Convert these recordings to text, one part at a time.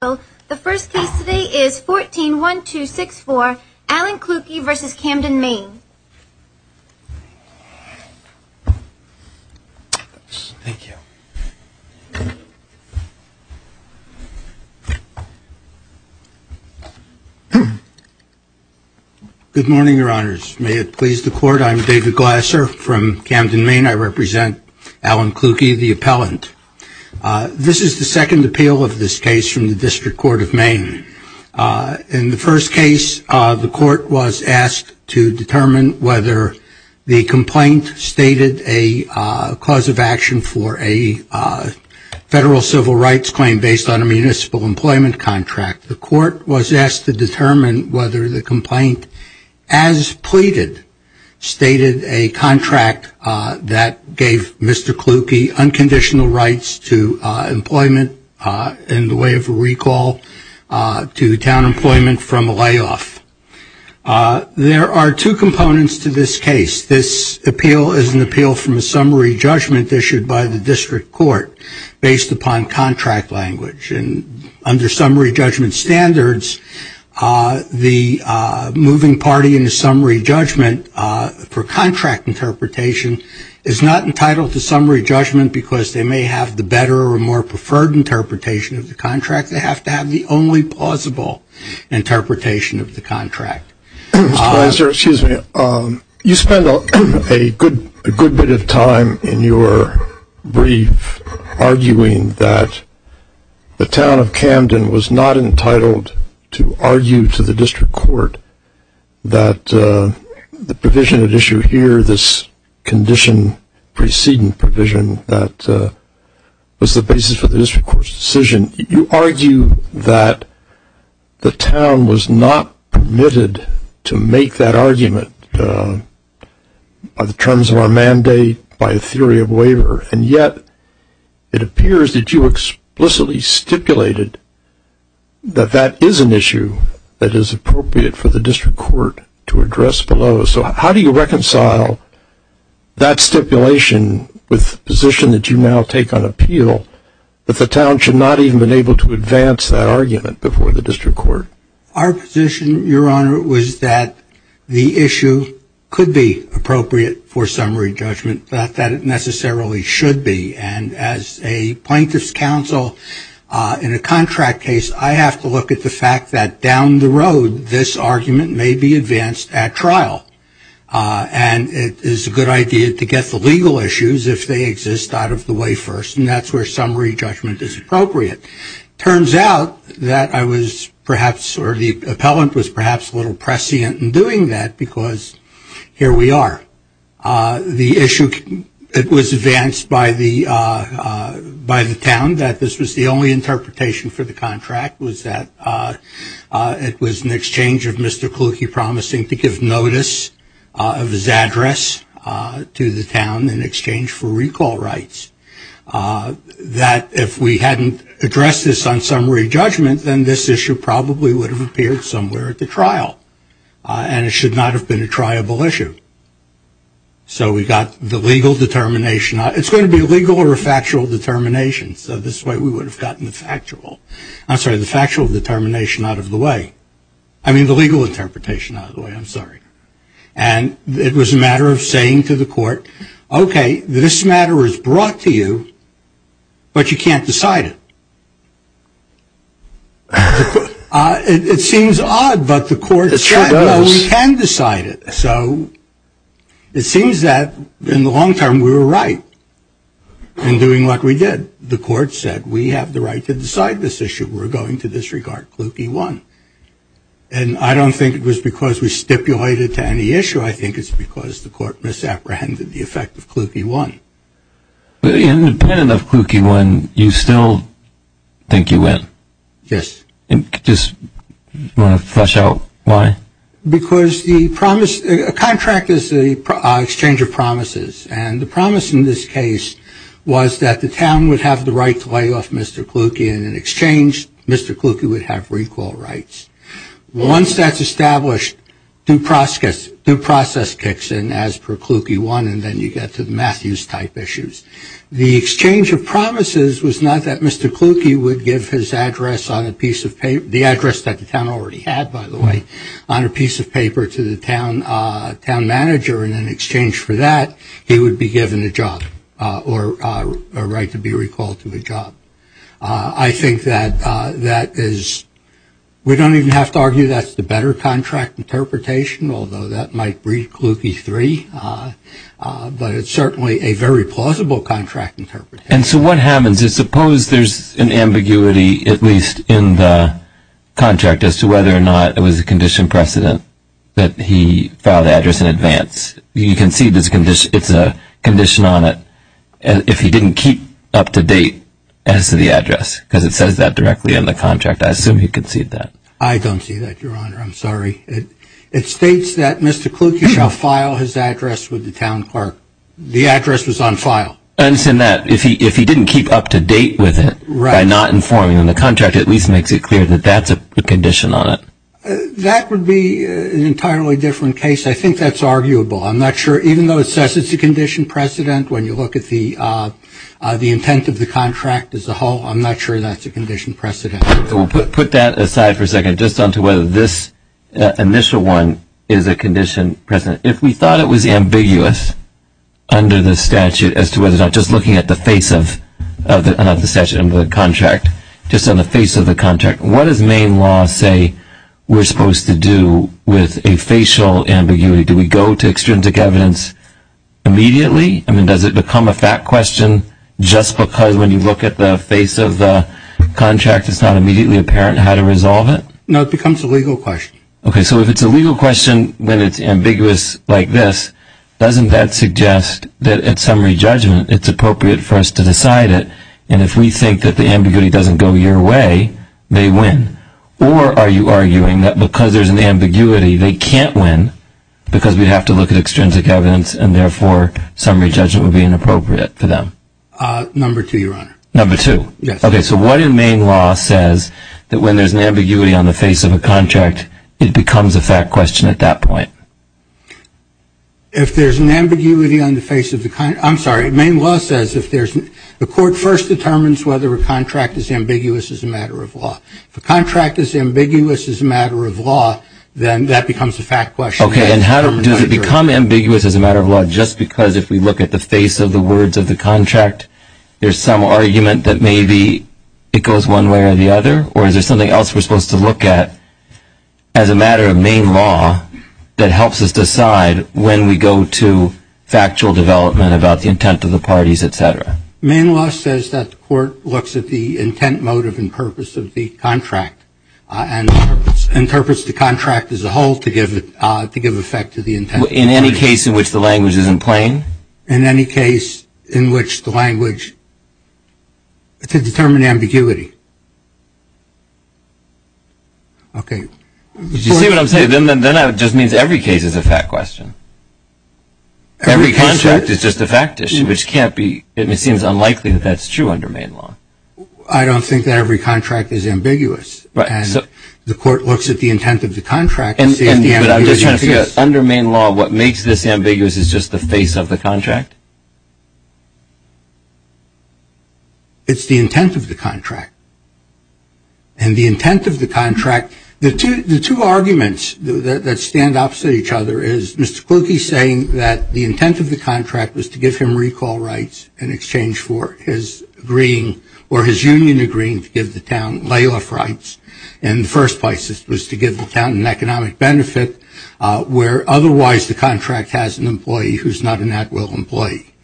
Good morning, your honors. May it please the court, I'm David Glasser from Camden, Maine. I represent Alan Klukey, the appellant. This is the second appeal of this case from the District Court of Maine. In the first case, the court was asked to determine whether the complaint stated a cause of action for a federal civil rights claim based on a municipal employment contract. The court was asked to determine whether the complaint, as pleaded, stated a contract that gave Mr. Klukey unconditional rights to employment in the way of a recall to town employment from a layoff. There are two components to this case. This appeal is an appeal from a summary judgment issued by the District Court based upon contract language. And under summary judgment standards, the moving party in the summary judgment for contract interpretation is not entitled to summary judgment because they may have the better or more preferred interpretation of the contract. They have to have the only plausible interpretation of the contract. Mr. Glasser, you spend a good bit of time in your brief arguing that the town of Camden was not entitled to argue to the District Court that the provision at issue here, this condition preceding provision that was the basis for the District Court's decision. You argue that the town was not permitted to make that argument by the terms of our mandate, by a theory of waiver, and yet it appears that you explicitly stipulated that that is an issue that is appropriate for the District Court to address below. So how do you reconcile that stipulation with the position that you now take on appeal that the town should not even have been able to advance that argument before the District Court? Our position, Your Honor, was that the issue could be appropriate for summary judgment, not that it necessarily should be. And as a plaintiff's counsel in a contract case, I have to look at the fact that down the road this argument may be advanced at trial. And it is a good idea to get the legal issues, if they exist, out of the way first, and that's where summary judgment is appropriate. Turns out that I was perhaps, or the appellant was perhaps a little prescient in doing that because here we are. The issue, it was advanced by the town that this was the only interpretation for the contract was that it was an exchange of Mr. Kluge promising to give notice of his address to the town in exchange for recall rights. That if we hadn't addressed this on summary judgment, then this issue probably would have appeared somewhere at the trial. And it should not have been a triable issue. So we got the legal determination. It's going to be a legal or a factual determination. So this way we would have gotten the factual determination out of the way. I mean the legal interpretation out of the way. I'm sorry. And it was a matter of saying to the court, okay, this matter is brought to you, but you can't decide it. It seems odd, but the court said we can decide it. So it seems that in the long term we were right in doing what we did. The court said we have the right to decide this issue. We're going to disregard Kluge 1. And I don't think it was because we stipulated to any issue. I think it's because the court misapprehended the effect of Kluge 1. Independent of Kluge 1, you still think you win? Yes. Just want to flesh out why? Because a contract is an exchange of promises. And the promise in this case was that the town would have the right to lay off Mr. Kluge in an exchange. Mr. Kluge would have recall rights. Once that's established, due process kicks in as per Kluge 1 and then you get to the Matthews type issues. The exchange of promises was not that Mr. Kluge would give his address on a piece of paper, the address that the town already had by the way, on a piece of paper to the town manager and in exchange for that he would be given a job or a right to be recalled to a job. I think that is, we don't even have to argue that's the better contract interpretation, although that might breed Kluge 3, but it's certainly a very plausible contract interpretation. And so what happens is suppose there's an ambiguity at least in the contract as to whether or not it was a condition precedent that he filed the address in advance. You can see it's a condition on it. If he didn't keep up to date as to the address, because it says that directly in the contract, I assume he conceded that. I don't see that, Your Honor. I'm sorry. It states that Mr. Kluge shall file his address with the town clerk. The address was on file. I understand that. If he didn't keep up to date with it by not informing him, the contract at least makes it clear that that's a condition on it. That would be an entirely different case. I think that's arguable. I'm not sure, even though it says it's a condition precedent, when you look at the intent of the contract as a whole, I'm not sure that's a condition precedent. So we'll put that aside for a second just on to whether this initial one is a condition precedent. If we thought it was ambiguous under the statute as to whether or not just looking at the face of the statute under the contract, just on the face of the contract, what does Maine law say we're supposed to do with a facial ambiguity? Do we go to extrinsic evidence immediately? I mean, does it become a fact question just because when you look at the face of the contract it's not immediately apparent how to resolve it? No, it becomes a legal question. Okay, so if it's a legal question when it's ambiguous like this, doesn't that suggest that at summary judgment it's appropriate for us to decide it? And if we think that the ambiguity doesn't go your way, they win. Or are you arguing that because there's an ambiguity they can't win because we'd have to look at extrinsic evidence and therefore summary judgment would be inappropriate for them? Number two, Your Honor. Number two? Yes. Okay, so what in Maine law says that when there's an ambiguity on the face of a contract it becomes a fact question at that point? If there's an ambiguity on the face of the contract, I'm sorry, Maine law says if there's, the court first determines whether a contract is ambiguous as a matter of law. If a contract is ambiguous as a matter of law, then that becomes a fact question. Okay, and does it become ambiguous as a matter of law just because if we look at the face of the words of the contract there's some argument that maybe it goes one way or the other? Or is there something else we're supposed to look at as a matter of Maine law that helps us decide when we go to factual development about the intent of the parties, et cetera? Maine law says that the court looks at the intent, motive, and purpose of the contract and interprets the contract as a whole to give effect to the intent. In any case in which the language isn't plain? In any case in which the language, to determine ambiguity. Okay. Did you see what I'm saying? Then that just means every case is a fact question. Every contract is just a fact issue, which can't be, it seems unlikely that that's true under Maine law. I don't think that every contract is ambiguous. The court looks at the intent of the contract. But I'm just trying to figure out, under Maine law, what makes this ambiguous is just the face of the contract? It's the intent of the contract. And the intent of the contract, the two arguments that stand opposite each other is Mr. Kluge saying that the intent of the contract was to give him recall rights in exchange for his agreeing or his union agreeing to give the town layoff rights. In the first place it was to give the town an economic benefit, where otherwise the contract has an employee who's not an at-will employee.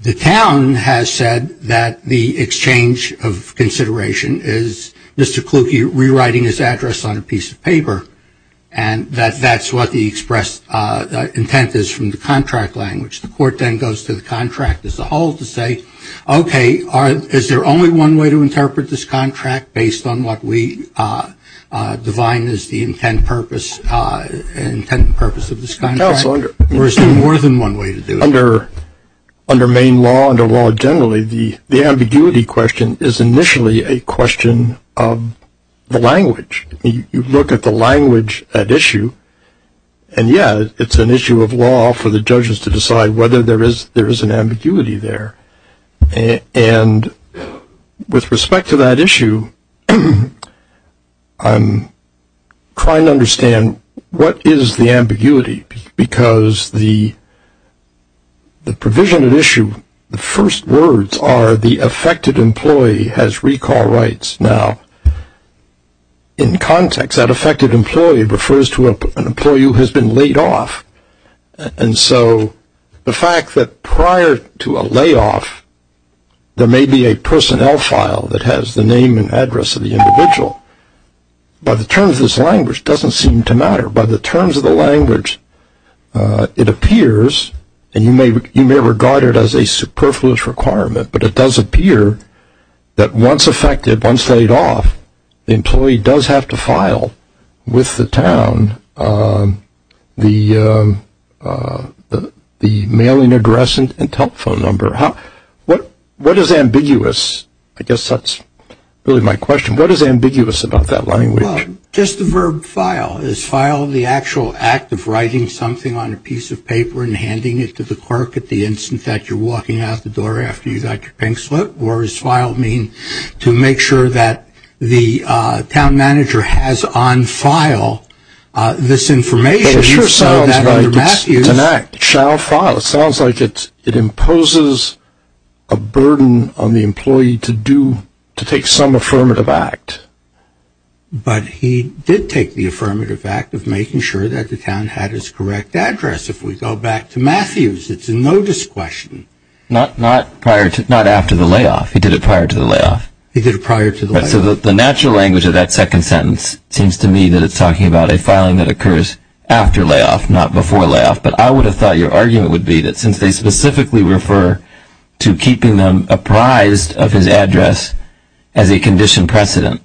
The town has said that the exchange of consideration is Mr. Kluge rewriting his address on a piece of paper, and that that's what the expressed intent is from the contract language. The court then goes to the contract as a whole to say, okay, is there only one way to interpret this contract based on what we define as the intent and purpose of this contract? There's more than one way to do it. Under Maine law, under law generally, the ambiguity question is initially a question of the language. You look at the language at issue, and, yeah, it's an issue of law for the judges to decide whether there is an ambiguity there. And with respect to that issue, I'm trying to understand what is the ambiguity, because the provision at issue, the first words are the affected employee has recall rights. Now, in context, that affected employee refers to an employee who has been laid off. And so the fact that prior to a layoff, there may be a personnel file that has the name and address of the individual. By the terms of this language, it doesn't seem to matter. By the terms of the language, it appears, and you may regard it as a superfluous requirement, but it does appear that once affected, once laid off, the employee does have to file with the town the mailing address and telephone number. What is ambiguous? I guess that's really my question. What is ambiguous about that language? Well, just the verb file. Is file the actual act of writing something on a piece of paper and handing it to the clerk at the instant that you're walking out the door after you got your pen slipped? Or does file mean to make sure that the town manager has on file this information? It sure sounds like it's an act. It shall file. It sounds like it imposes a burden on the employee to take some affirmative act. But he did take the affirmative act of making sure that the town had its correct address. If we go back to Matthews, it's a notice question. Not after the layoff. He did it prior to the layoff. He did it prior to the layoff. So the natural language of that second sentence seems to me that it's talking about a filing that occurs after layoff, not before layoff. But I would have thought your argument would be that since they specifically refer to keeping them apprised of his address as a condition precedent,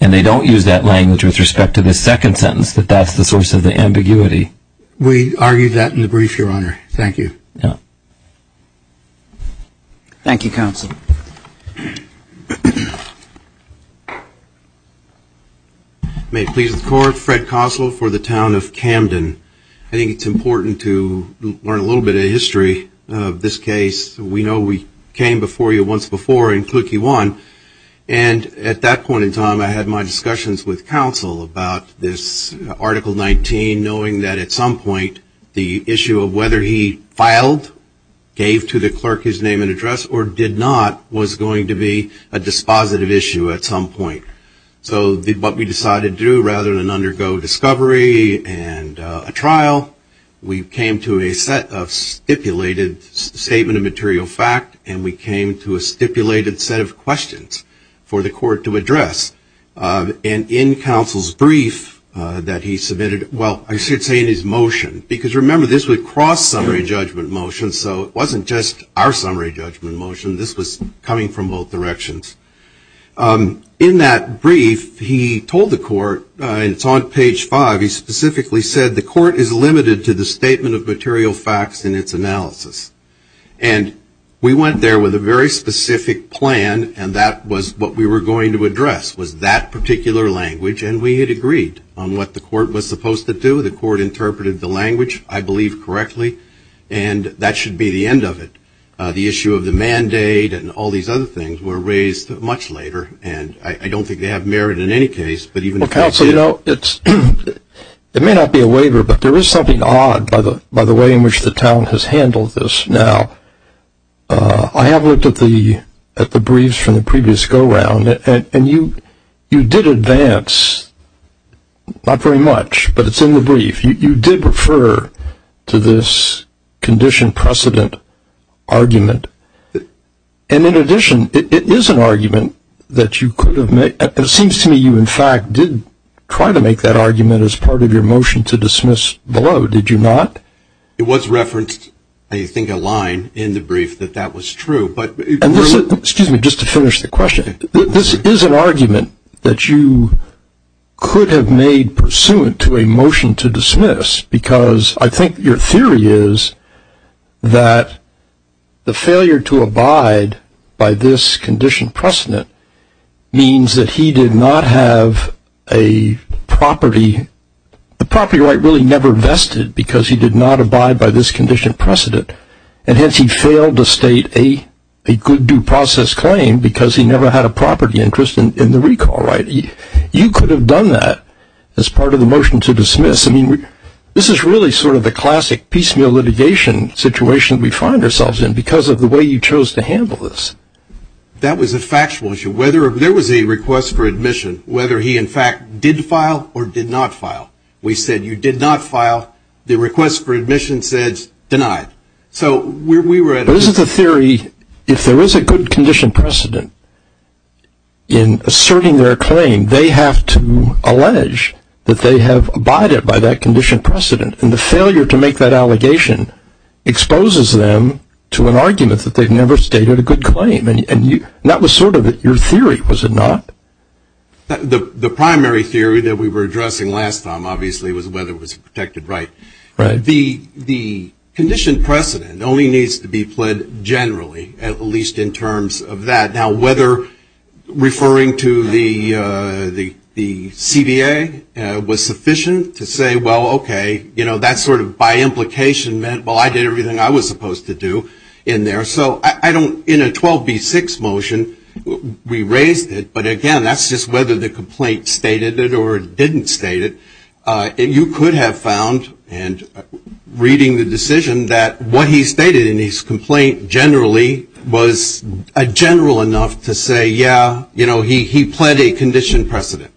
and they don't use that language with respect to the second sentence, that that's the source of the ambiguity. We argued that in the brief, Your Honor. Thank you. Thank you, Counsel. May it please the Court, Fred Koslow for the Town of Camden. I think it's important to learn a little bit of history of this case. We know we came before you once before in Cookie One, and at that point in time I had my discussions with Counsel about this Article 19, knowing that at some point the issue of whether he filed, gave to the clerk his name and address, or did not was going to be a dispositive issue at some point. So what we decided to do, rather than undergo discovery and a trial, we came to a set of stipulated statement of material fact, and we came to a stipulated set of questions for the Court to address. And in Counsel's brief that he submitted, well, I should say in his motion, because remember this would cross summary judgment motion, so it wasn't just our summary judgment motion, this was coming from both directions. In that brief, he told the Court, and it's on page five, he specifically said the Court is limited to the statement of material facts in its analysis. And we went there with a very specific plan, and that was what we were going to address was that particular language, and we had agreed on what the Court was supposed to do. The Court interpreted the language, I believe, correctly, and that should be the end of it. The issue of the mandate and all these other things were raised much later, and I don't think they have merit in any case, but even Counsel did. It may not be a waiver, but there is something odd by the way in which the town has handled this now. I have looked at the briefs from the previous go-round, and you did advance, not very much, but it's in the brief. You did refer to this condition precedent argument, and in addition, it is an argument that you could have made. It seems to me you, in fact, did try to make that argument as part of your motion to dismiss below, did you not? It was referenced, I think, a line in the brief that that was true. Excuse me, just to finish the question. This is an argument that you could have made pursuant to a motion to dismiss, because I think your theory is that the failure to abide by this condition precedent means that he did not have a property. The property right really never vested because he did not abide by this condition precedent, and hence he failed to state a good due process claim because he never had a property interest in the recall right. You could have done that as part of the motion to dismiss. I mean, this is really sort of the classic piecemeal litigation situation we find ourselves in because of the way you chose to handle this. That was a factual issue. There was a request for admission, whether he, in fact, did file or did not file. We said you did not file. The request for admission says denied. But isn't the theory if there is a good condition precedent in asserting their claim, they have to allege that they have abided by that condition precedent, and the failure to make that allegation exposes them to an argument that they've never stated a good claim, and that was sort of your theory, was it not? The primary theory that we were addressing last time, obviously, was whether it was a protected right. Right. The condition precedent only needs to be pled generally, at least in terms of that. Now, whether referring to the CBA was sufficient to say, well, okay, you know, that sort of by implication meant, well, I did everything I was supposed to do in there. So I don't, in a 12B6 motion, we raised it, but, again, that's just whether the complaint stated it or didn't state it. You could have found in reading the decision that what he stated in his complaint generally was general enough to say, yeah, you know, he pled a condition precedent.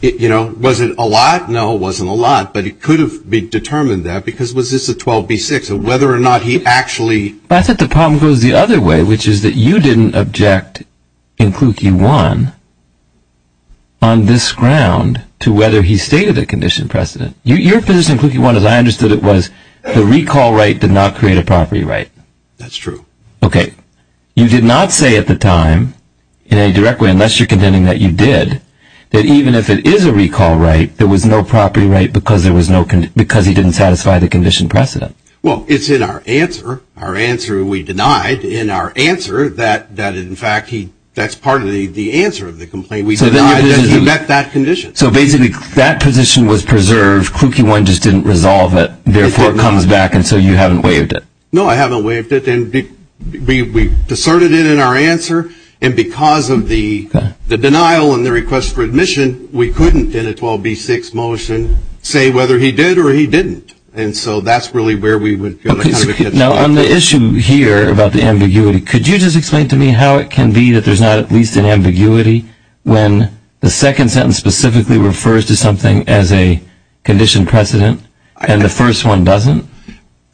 You know, was it a lot? No, it wasn't a lot, but it could have been determined that because was this a 12B6, whether or not he actually. I think the problem goes the other way, which is that you didn't object in Kluge 1 on this ground to whether he stated a condition precedent. Your position in Kluge 1, as I understood it, was the recall right did not create a property right. That's true. Okay. You did not say at the time, in any direct way, unless you're contending that you did, that even if it is a recall right, there was no property right because he didn't satisfy the condition precedent. Well, it's in our answer. Our answer we denied in our answer that, in fact, that's part of the answer of the complaint. He met that condition. So, basically, that position was preserved. Kluge 1 just didn't resolve it. Therefore, it comes back, and so you haven't waived it. No, I haven't waived it. We deserted it in our answer, and because of the denial and the request for admission, we couldn't in a 12B6 motion say whether he did or he didn't. And so that's really where we would go. Now, on the issue here about the ambiguity, could you just explain to me how it can be that there's not at least an ambiguity when the second sentence specifically refers to something as a condition precedent and the first one doesn't?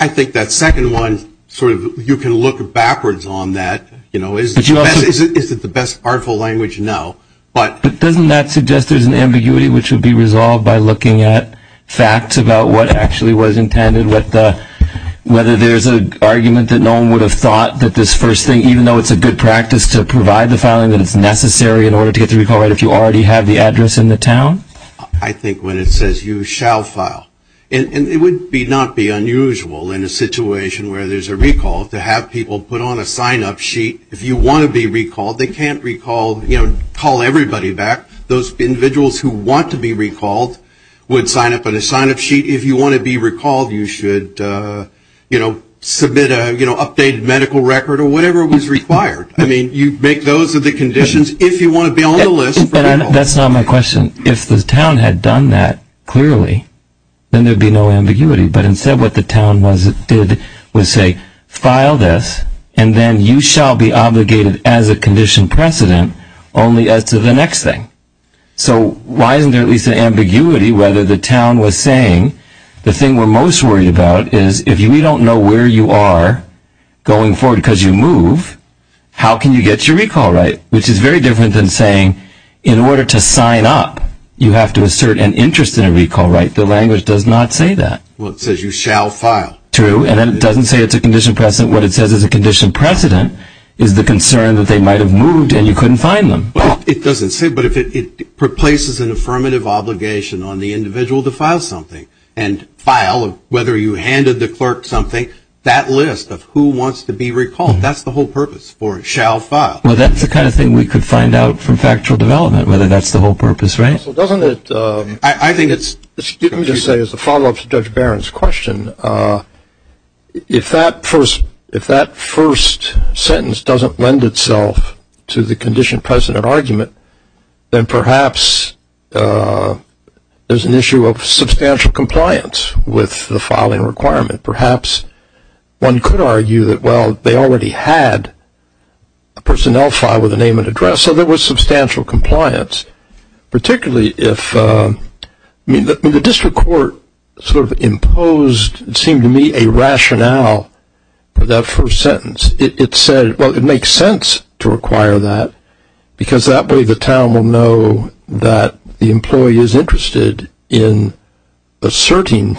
I think that second one sort of you can look backwards on that, you know, is it the best artful language? No. But doesn't that suggest there's an ambiguity which would be resolved by looking at facts about what actually was intended, whether there's an argument that no one would have thought that this first thing, even though it's a good practice to provide the filing, that it's necessary in order to get the recall right if you already have the address in the town? I think when it says you shall file, and it would not be unusual in a situation where there's a recall to have people put on a sign-up sheet. If you want to be recalled, they can't recall, you know, call everybody back. Those individuals who want to be recalled would sign up on a sign-up sheet. If you want to be recalled, you should, you know, submit an updated medical record or whatever was required. I mean, you make those the conditions if you want to be on the list. That's not my question. If the town had done that clearly, then there would be no ambiguity. But instead what the town did was say, file this, and then you shall be obligated as a condition precedent only as to the next thing. So why isn't there at least an ambiguity whether the town was saying, the thing we're most worried about is if we don't know where you are going forward because you move, how can you get your recall right? Which is very different than saying in order to sign up, you have to assert an interest in a recall right. The language does not say that. Well, it says you shall file. True, and then it doesn't say it's a condition precedent. What it says is a condition precedent is the concern that they might have moved and you couldn't find them. Well, it doesn't say it, but it places an affirmative obligation on the individual to file something and file whether you handed the clerk something, that list of who wants to be recalled. That's the whole purpose for shall file. Well, that's the kind of thing we could find out from factual development, whether that's the whole purpose, right? Well, doesn't it – I think it's – Let me just say as a follow-up to Judge Barron's question, if that first sentence doesn't lend itself to the condition precedent argument, then perhaps there's an issue of substantial compliance with the filing requirement. Perhaps one could argue that, well, they already had a personnel file with a name and address, so there was substantial compliance, particularly if – I mean, the district court sort of imposed, it seemed to me, a rationale for that first sentence. It said, well, it makes sense to require that, because that way the town will know that the employee is interested in asserting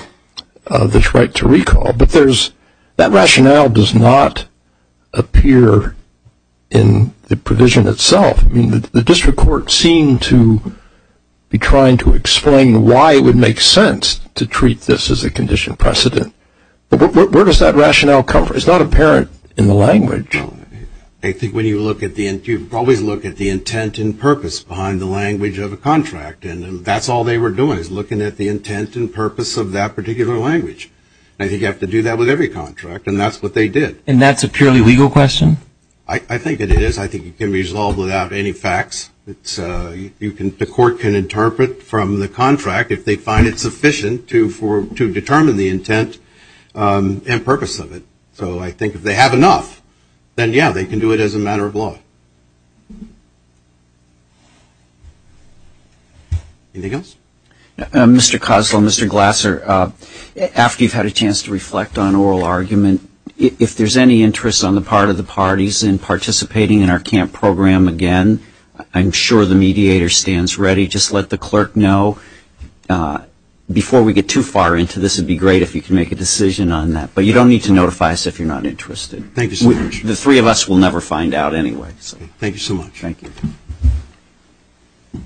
this right to recall. But there's – that rationale does not appear in the provision itself. I mean, the district court seemed to be trying to explain why it would make sense to treat this as a condition precedent. But where does that rationale come from? It's not apparent in the language. I think when you look at the – you always look at the intent and purpose behind the language of a contract, and that's all they were doing is looking at the intent and purpose of that particular language. I think you have to do that with every contract, and that's what they did. And that's a purely legal question? I think it is. I think it can be resolved without any facts. It's – you can – the court can interpret from the contract, if they find it sufficient to determine the intent and purpose of it. So I think if they have enough, then, yeah, they can do it as a matter of law. Anything else? Mr. Koslow, Mr. Glasser, after you've had a chance to reflect on oral argument, if there's any interest on the part of the parties in participating in our camp program again, I'm sure the mediator stands ready. Just let the clerk know. Before we get too far into this, it would be great if you could make a decision on that. But you don't need to notify us if you're not interested. Thank you so much. The three of us will never find out anyway. Thank you so much. Thank you.